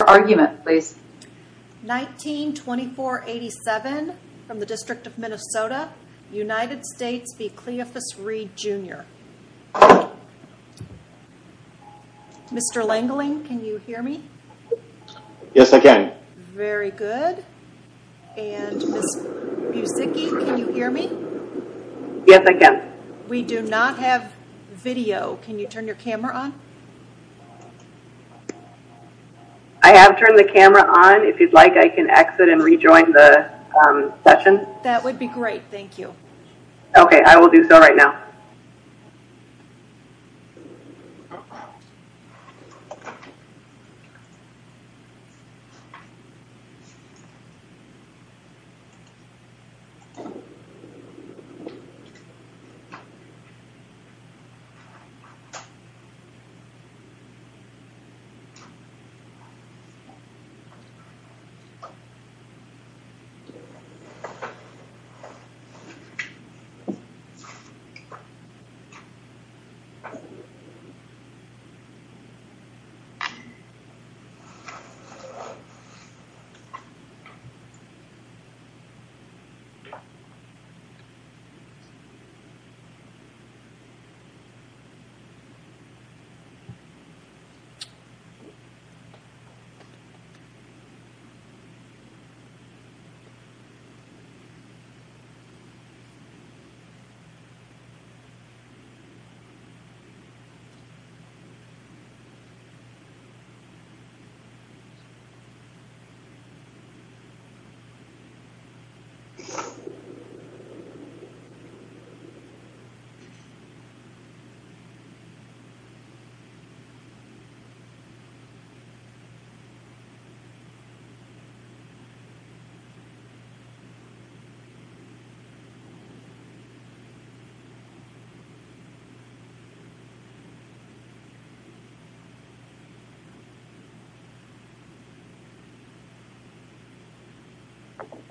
19-2487 from the District of Minnesota, United States v. Cleophus Reed, Jr. Mr. Langeling, can you hear me? Yes, I can. Very good. And Ms. Busicki, can you hear me? Yes, I can. We do not have video. Can you turn your camera on? I have turned the camera on. If you'd like, I can exit and rejoin the session. That would be great. Thank you. Okay, I will do so right now.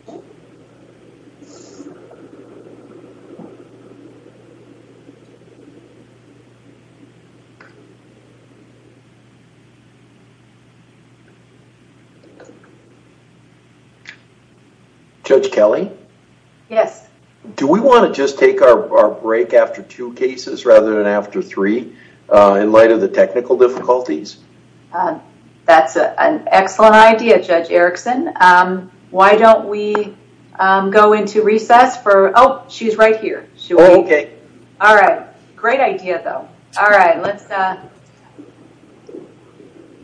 Okay.... Judge Kelly? Yes? Do we want to just take our break after two cases rather than after three in light of the technical difficulties? That's an excellent idea, Judge Erickson. Why don't we go into recess for... Oh, she's right here. Oh, okay. All right. Great idea, though. All right. Let's...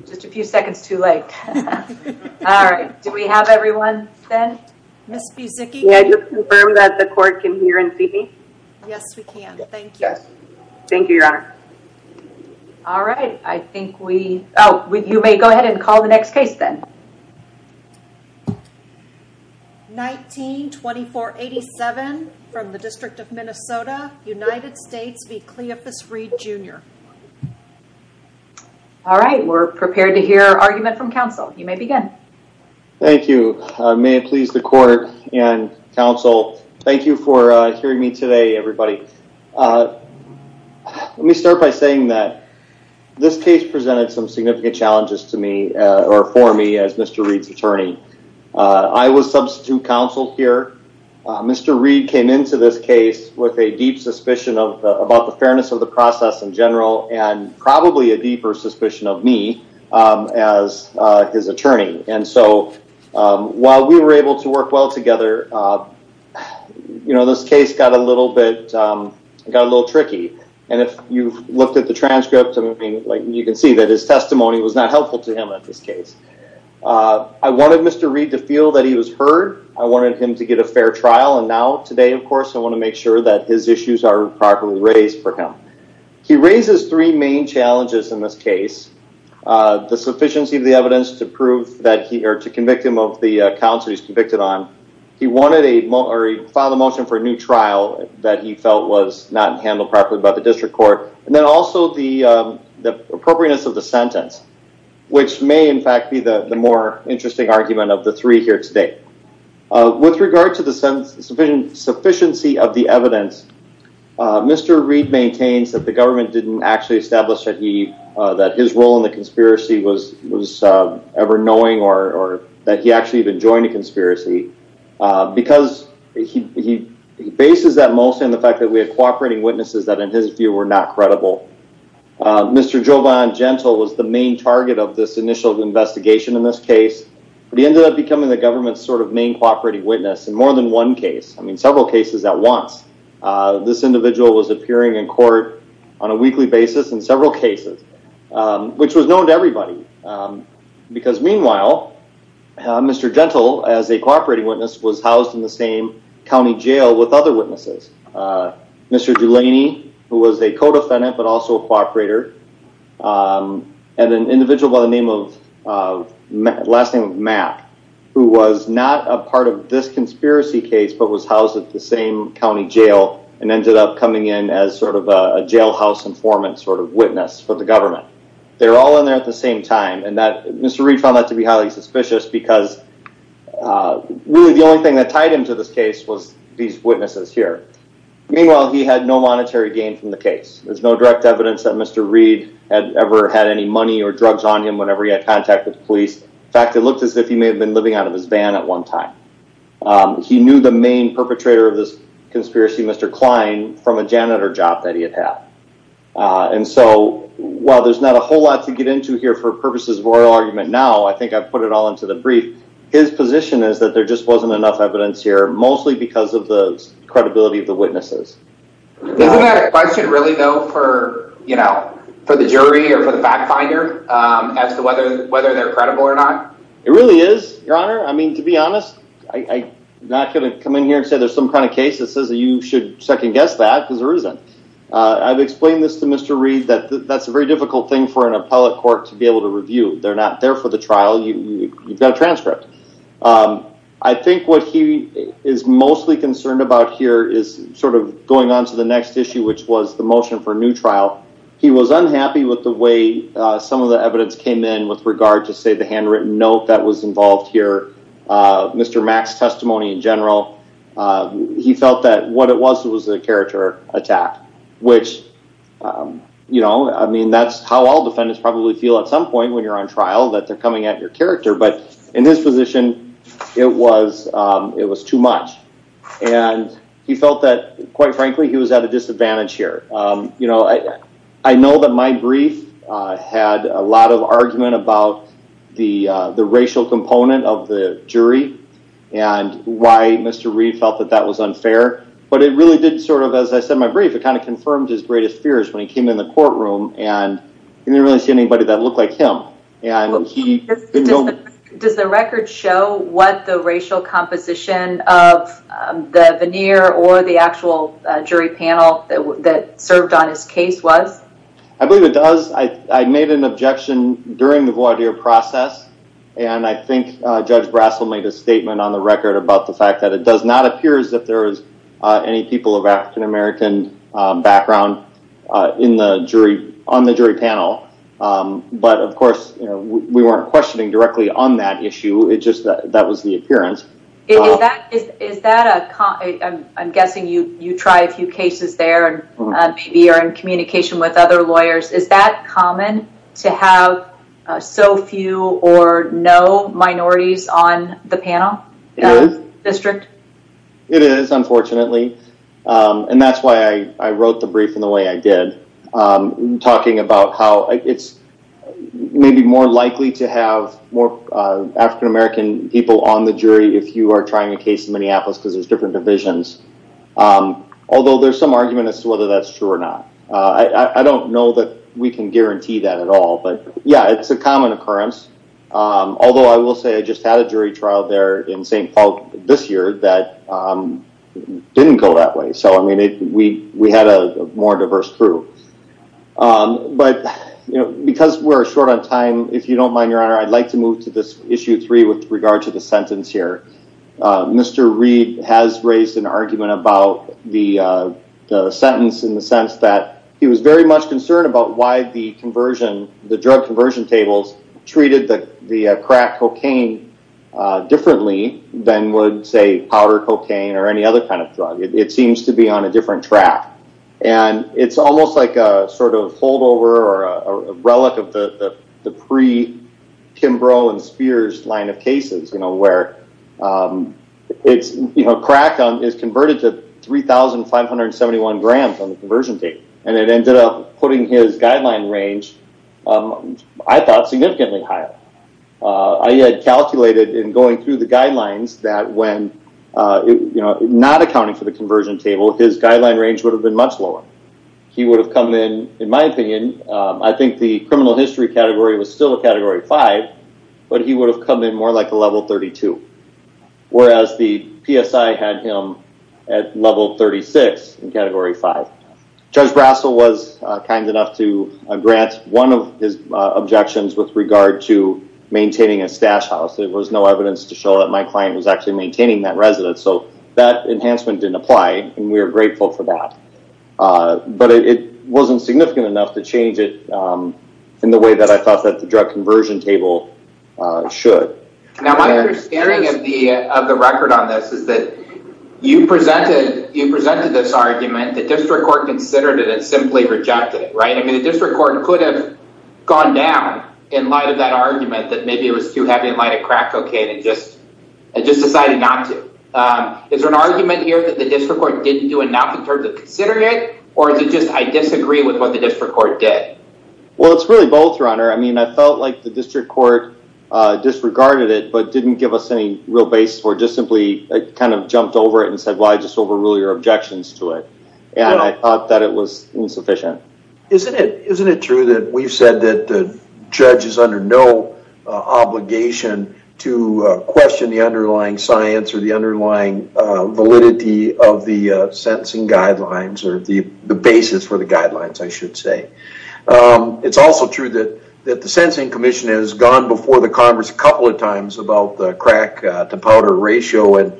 Just a few seconds too late. All right. Do we have everyone, then? Ms. Busicki? Can you confirm that the court can hear and see me? Yes, we can. Thank you. Thank you, Your Honor. All right. I think we... Oh, you may go ahead and call the next case, then. 19-2487 from the District of Minnesota, United States v. Cleopas Reed, Jr. All right. We're prepared to hear argument from counsel. You may begin. Thank you. May it please the court and counsel, thank you for hearing me today, everybody. Let me start by saying that this case presented some significant challenges to me or for me as Mr. Reed's attorney. I was substitute counsel here. Mr. Reed came into this case with a deep suspicion about the fairness of the process in general and probably a deeper suspicion of me as his attorney. And so while we were able to work well together, this case got a little tricky. And if you looked at the transcript, you can see that his testimony was not helpful to him in this case. I wanted Mr. Reed to feel that he was heard. I wanted him to get a fair trial. And now, today, of course, I want to make sure that his issues are properly raised for him. He raises three main challenges in this case. The sufficiency of the evidence to prove that he or to convict him of the counts he's convicted on. He wanted a motion for a new trial that he felt was not handled properly by the district court. And then also the appropriateness of the sentence, which may, in fact, be the more interesting argument of the three here today. With regard to the sufficiency of the evidence, Mr. Reed maintains that the government didn't actually establish that his role in the conspiracy was ever knowing or that he actually even joined a conspiracy. Because he bases that mostly on the fact that we had cooperating witnesses that, in his view, were not credible. Mr. Jovan Gentle was the main target of this initial investigation in this case. He ended up becoming the government's sort of main cooperating witness in more than one case. I mean, several cases at once. This individual was appearing in court on a weekly basis in several cases, which was known to everybody. Because, meanwhile, Mr. Gentle, as a cooperating witness, was housed in the same county jail with other witnesses. Mr. Dulaney, who was a co-defendant but also a cooperator, and an individual by the last name of Matt, who was not a part of this conspiracy case but was housed at the same county jail and ended up coming in as sort of a jailhouse informant sort of witness for the government. They were all in there at the same time. Mr. Reed found that to be highly suspicious because really the only thing that tied him to this case was these witnesses here. Meanwhile, he had no monetary gain from the case. There's no direct evidence that Mr. Reed had ever had any money or drugs on him whenever he had contact with the police. In fact, it looked as if he may have been living out of his van at one time. He knew the main perpetrator of this conspiracy, Mr. Klein, from a janitor job that he had had. While there's not a whole lot to get into here for purposes of oral argument now, I think I've put it all into the brief. His position is that there just wasn't enough evidence here, mostly because of the credibility of the witnesses. Isn't that a question really, though, for the jury or for the fact finder as to whether they're credible or not? It really is, Your Honor. I mean, to be honest, I'm not going to come in here and say there's some kind of case that says that you should second-guess that because there isn't. I've explained this to Mr. Reed that that's a very difficult thing for an appellate court to be able to review. They're not there for the trial. You've got a transcript. I think what he is mostly concerned about here is sort of going on to the next issue, which was the motion for a new trial. He was unhappy with the way some of the evidence came in with regard to, say, the handwritten note that was involved here. Mr. Mack's testimony in general, he felt that what it was was a character attack, which, you know, I mean, that's how all defendants probably feel at some point when you're on trial, that they're coming at your character. But in his position, it was too much. And he felt that, quite frankly, he was at a disadvantage here. I know that my brief had a lot of argument about the racial component of the jury and why Mr. Reed felt that that was unfair. But it really did sort of, as I said in my brief, it kind of confirmed his greatest fears when he came in the courtroom, and he didn't really see anybody that looked like him. Does the record show what the racial composition of the veneer or the actual jury panel that served on his case was? I believe it does. I made an objection during the voir dire process. And I think Judge Brassel made a statement on the record about the fact that it does not appear as if there is any people of African-American background on the jury panel. But, of course, we weren't questioning directly on that issue. It's just that that was the appearance. Is that is that a I'm guessing you try a few cases there and maybe you're in communication with other lawyers. Is that common to have so few or no minorities on the panel district? It is, unfortunately. And that's why I wrote the brief in the way I did, talking about how it's maybe more likely to have more African-American people on the jury if you are trying a case in Minneapolis because there's different divisions. Although there's some argument as to whether that's true or not. I don't know that we can guarantee that at all. But, yeah, it's a common occurrence, although I will say I just had a jury trial there in St. Paul this year that didn't go that way. So, I mean, we we had a more diverse crew. But because we're short on time, if you don't mind, your honor, I'd like to move to this issue three with regard to the sentence here. Mr. Reid has raised an argument about the sentence in the sense that he was very much concerned about why the conversion, the drug conversion tables treated the crack cocaine differently than would say powder cocaine or any other kind of drug. It seems to be on a different track and it's almost like a sort of holdover or a relic of the pre Kimbrough and Spears line of cases where it's cracked on is converted to three thousand five hundred seventy one grams on the conversion date. And it ended up putting his guideline range, I thought, significantly higher. I had calculated in going through the guidelines that when, you know, not accounting for the conversion table, his guideline range would have been much lower. He would have come in. In my opinion, I think the criminal history category was still a category five, but he would have come in more like a level 32, whereas the PSI had him at level 36 in category five. Judge Russell was kind enough to grant one of his objections with regard to maintaining a stash house. There was no evidence to show that my client was actually maintaining that residence. So that enhancement didn't apply. And we are grateful for that. But it wasn't significant enough to change it in the way that I thought that the drug conversion table should. Now, my understanding of the of the record on this is that you presented you presented this argument. The district court considered it and simply rejected it. Right. I mean, the district court could have gone down in light of that argument that maybe it was too heavy in light of crack cocaine and just just decided not to. Is there an argument here that the district court didn't do enough in terms of considering it? Or is it just I disagree with what the district court did? Well, it's really both runner. I mean, I felt like the district court disregarded it, but didn't give us any real base or just simply kind of jumped over it and said, why just overrule your objections to it? And I thought that it was insufficient. Isn't it isn't it true that we've said that the judge is under no obligation to question the underlying science or the underlying validity of the sentencing guidelines or the basis for the guidelines? I should say it's also true that that the sentencing commission has gone before the Congress a couple of times about the crack to powder ratio. And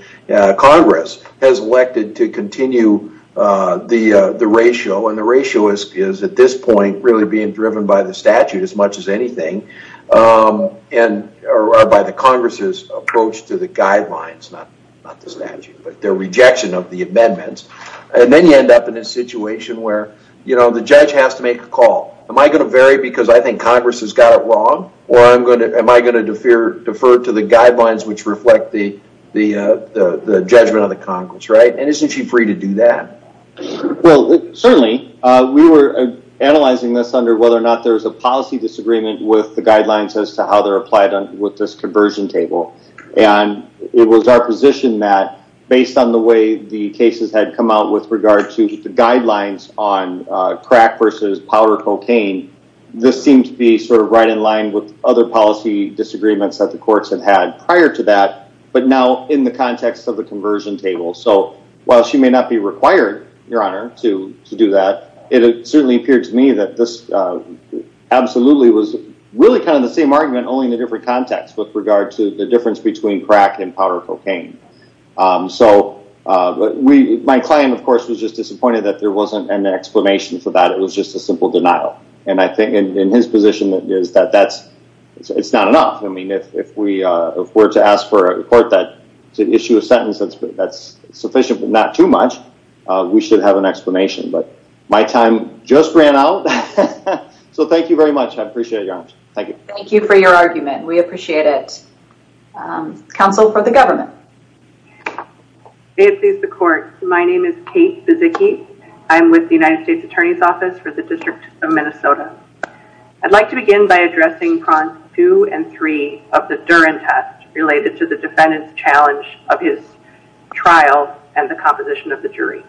Congress has elected to continue the the ratio. And the ratio is at this point really being driven by the statute as much as anything and by the Congress's approach to the guidelines, not the statute, but their rejection of the amendments. And then you end up in a situation where, you know, the judge has to make a call. Am I going to vary because I think Congress has got it wrong or am I going to defer to the guidelines which reflect the judgment of the Congress? Right. And isn't she free to do that? Well, certainly we were analyzing this under whether or not there was a policy disagreement with the guidelines as to how they're applied with this conversion table. And it was our position that based on the way the cases had come out with regard to the guidelines on crack versus powder cocaine, this seemed to be sort of right in line with other policy disagreements that the courts had had prior to that, but now in the context of the conversion table. So while she may not be required, Your Honor, to do that, it certainly appeared to me that this absolutely was really kind of the same argument, only in a different context with regard to the difference between crack and powder cocaine. So my client, of course, was just disappointed that there wasn't an explanation for that. It was just a simple denial. And I think in his position, it's not enough. I mean, if we were to ask for a court to issue a sentence that's sufficient but not too much, we should have an explanation. But my time just ran out. So thank you very much. I appreciate it, Your Honor. Thank you. Thank you for your argument. We appreciate it. Counsel for the government. May it please the court. My name is Kate Vizicky. I'm with the United States Attorney's Office for the District of Minnesota. I'd like to begin by addressing prongs two and three of the Duren test related to the defendant's challenge of his trial and the composition of the jury.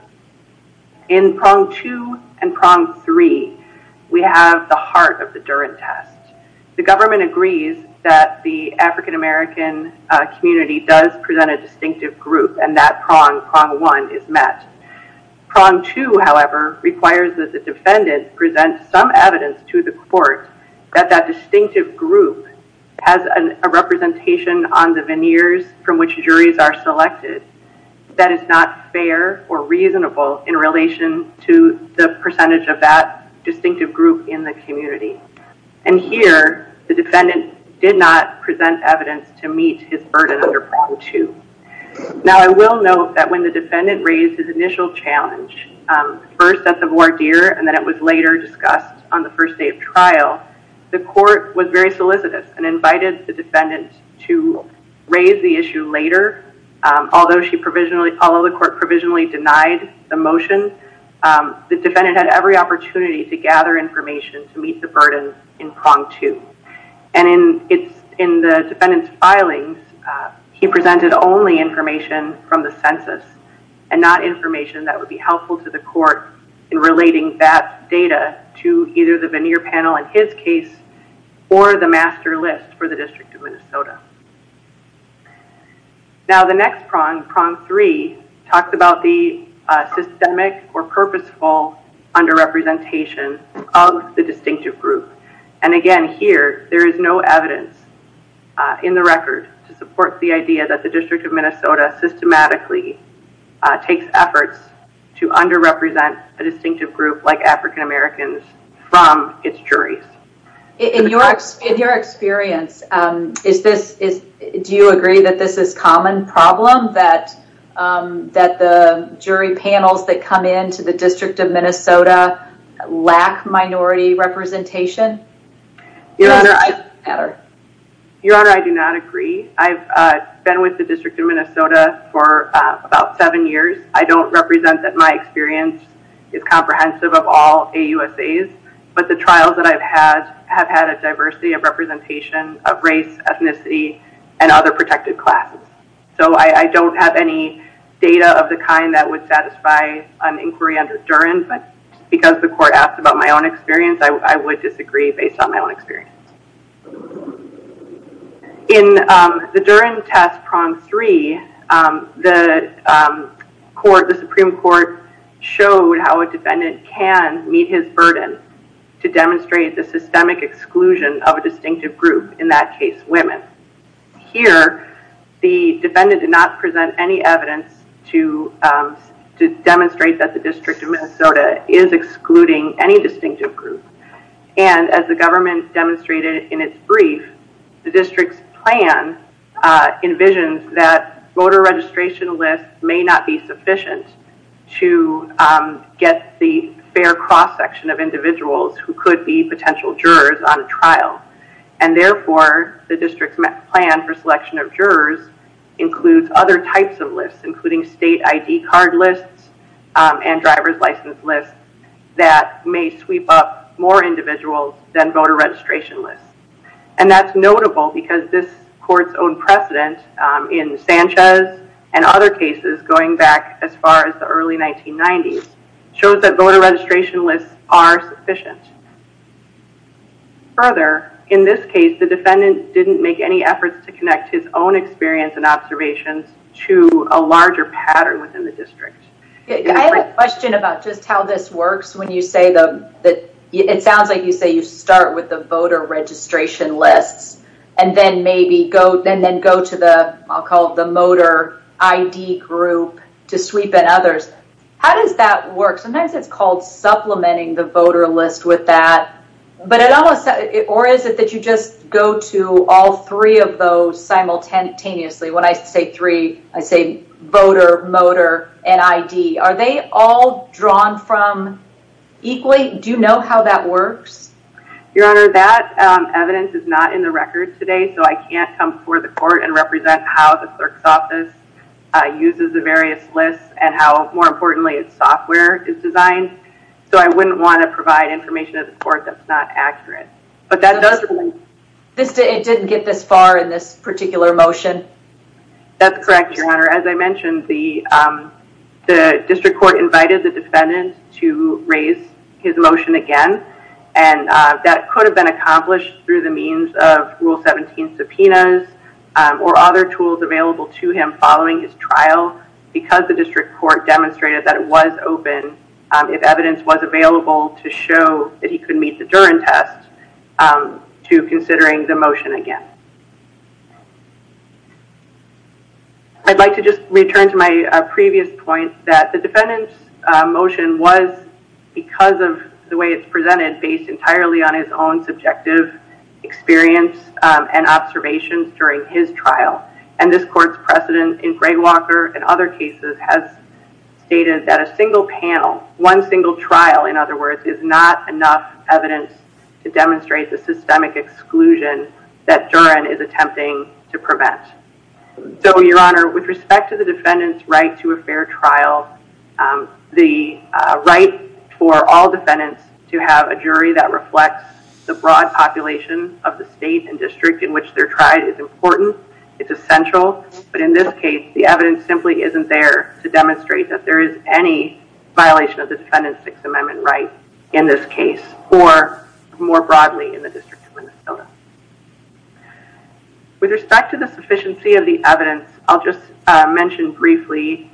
In prong two and prong three, we have the heart of the Duren test. The government agrees that the African-American community does present a distinctive group, and that prong, prong one, is met. Prong two, however, requires that the defendant present some evidence to the court that that distinctive group has a representation on the veneers from which juries are selected that is not fair or reasonable in relation to the percentage of that distinctive group in the community. And here, the defendant did not present evidence to meet his burden under prong two. Now, I will note that when the defendant raised his initial challenge, first at the voir dire and then it was later discussed on the first day of trial, the court was very solicitous and invited the defendant to raise the issue later. Although she provisionally, although the court provisionally denied the motion, the defendant had every opportunity to gather information to meet the burden in prong two. And in the defendant's filings, he presented only information from the census and not information that would be helpful to the court in relating that data to either the veneer panel in his case or the master list for the District of Minnesota. Now, the next prong, prong three, talks about the systemic or purposeful underrepresentation of the distinctive group. And again, here, there is no evidence in the record to support the idea that the District of Minnesota systematically takes efforts to underrepresent a distinctive group like African Americans from its juries. In your experience, do you agree that this is a common problem? That the jury panels that come into the District of Minnesota lack minority representation? Your Honor, I do not agree. I've been with the District of Minnesota for about seven years. I don't represent that my experience is comprehensive of all AUSAs. But the trials that I've had have had a diversity of representation of race, ethnicity, and other protected classes. So I don't have any data of the kind that would satisfy an inquiry under Duren. But because the court asked about my own experience, I would disagree based on my own experience. In the Duren test, prong three, the Supreme Court showed how a defendant can meet his burden to demonstrate the systemic exclusion of a distinctive group, in that case, women. Here, the defendant did not present any evidence to demonstrate that the District of Minnesota is excluding any distinctive group. And as the government demonstrated in its brief, the District's plan envisions that voter registration lists may not be sufficient to get the fair cross-section of individuals who could be potential jurors on a trial. And therefore, the District's plan for selection of jurors includes other types of lists, including state ID card lists and driver's license lists that may sweep up more individuals than voter registration lists. And that's notable because this court's own precedent in Sanchez and other cases going back as far as the early 1990s shows that voter registration lists are sufficient. Further, in this case, the defendant didn't make any efforts to connect his own experience and observations to a larger pattern within the district. I have a question about just how this works when you say that it sounds like you say you start with the voter registration lists and then maybe go and then go to the I'll call it the motor ID group to sweep in others. How does that work? Sometimes it's called supplementing the voter list with that. Or is it that you just go to all three of those simultaneously? When I say three, I say voter, motor and ID. Are they all drawn from equally? Do you know how that works? Your Honor, that evidence is not in the record today, so I can't come before the court and represent how the clerk's office uses the various lists and how, more importantly, its software is designed. So I wouldn't want to provide information at the court that's not accurate. But that doesn't mean it didn't get this far in this particular motion. That's correct, Your Honor. As I mentioned, the district court invited the defendant to raise his motion again. And that could have been accomplished through the means of Rule 17 subpoenas or other tools available to him following his trial because the district court demonstrated that it was open if evidence was available to show that he could meet the Durand test to considering the motion again. I'd like to just return to my previous point that the defendant's motion was, because of the way it's presented, based entirely on his own subjective experience and observations during his trial. And this court's precedent in Greywalker and other cases has stated that a single panel, one single trial, in other words, is not enough evidence to demonstrate the systemic exclusion that Durand is attempting to prevent. So, Your Honor, with respect to the defendant's right to a fair trial, the right for all defendants to have a jury that reflects the broad population of the state and district in which they're tried is important. It's essential. But in this case, the evidence simply isn't there to demonstrate that there is any violation of the Defendant's Sixth Amendment right in this case or more broadly in the District of Minnesota. With respect to the sufficiency of the evidence, I'll just mention briefly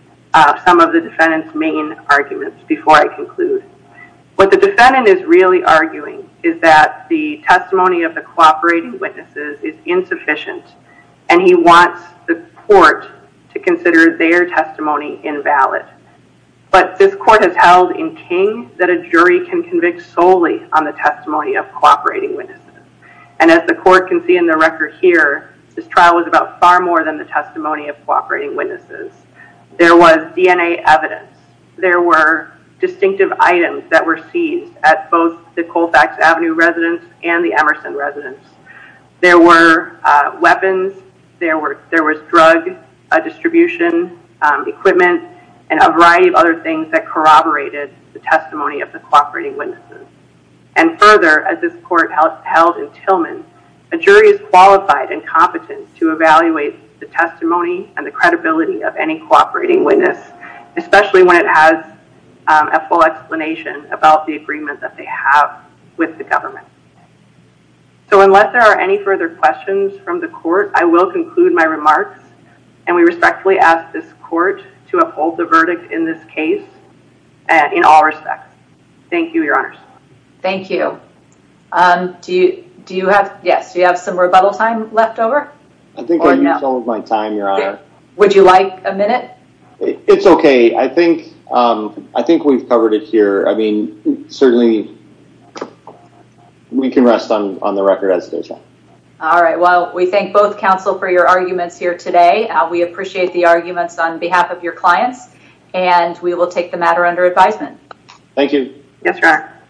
some of the defendant's main arguments before I conclude. What the defendant is really arguing is that the testimony of the cooperating witnesses is insufficient and he wants the court to consider their testimony invalid. But this court has held in King that a jury can convict solely on the testimony of cooperating witnesses. And as the court can see in the record here, this trial was about far more than the testimony of cooperating witnesses. There was DNA evidence. There were distinctive items that were seized at both the Colfax Avenue residence and the Emerson residence. There were weapons. There was drug distribution equipment and a variety of other things that corroborated the testimony of the cooperating witnesses. And further, as this court held in Tillman, a jury is qualified and competent to evaluate the testimony and the credibility of any cooperating witness, especially when it has a full explanation about the agreement that they have with the government. So unless there are any further questions from the court, I will conclude my remarks. And we respectfully ask this court to uphold the verdict in this case in all respects. Thank you, Your Honors. Thank you. Do you have some rebuttal time left over? I think I used all of my time, Your Honor. Would you like a minute? It's okay. I think we've covered it here. I mean, certainly we can rest on the record as it is. All right. Well, we thank both counsel for your arguments here today. We appreciate the arguments on behalf of your clients, and we will take the matter under advisement. Yes, Your Honor.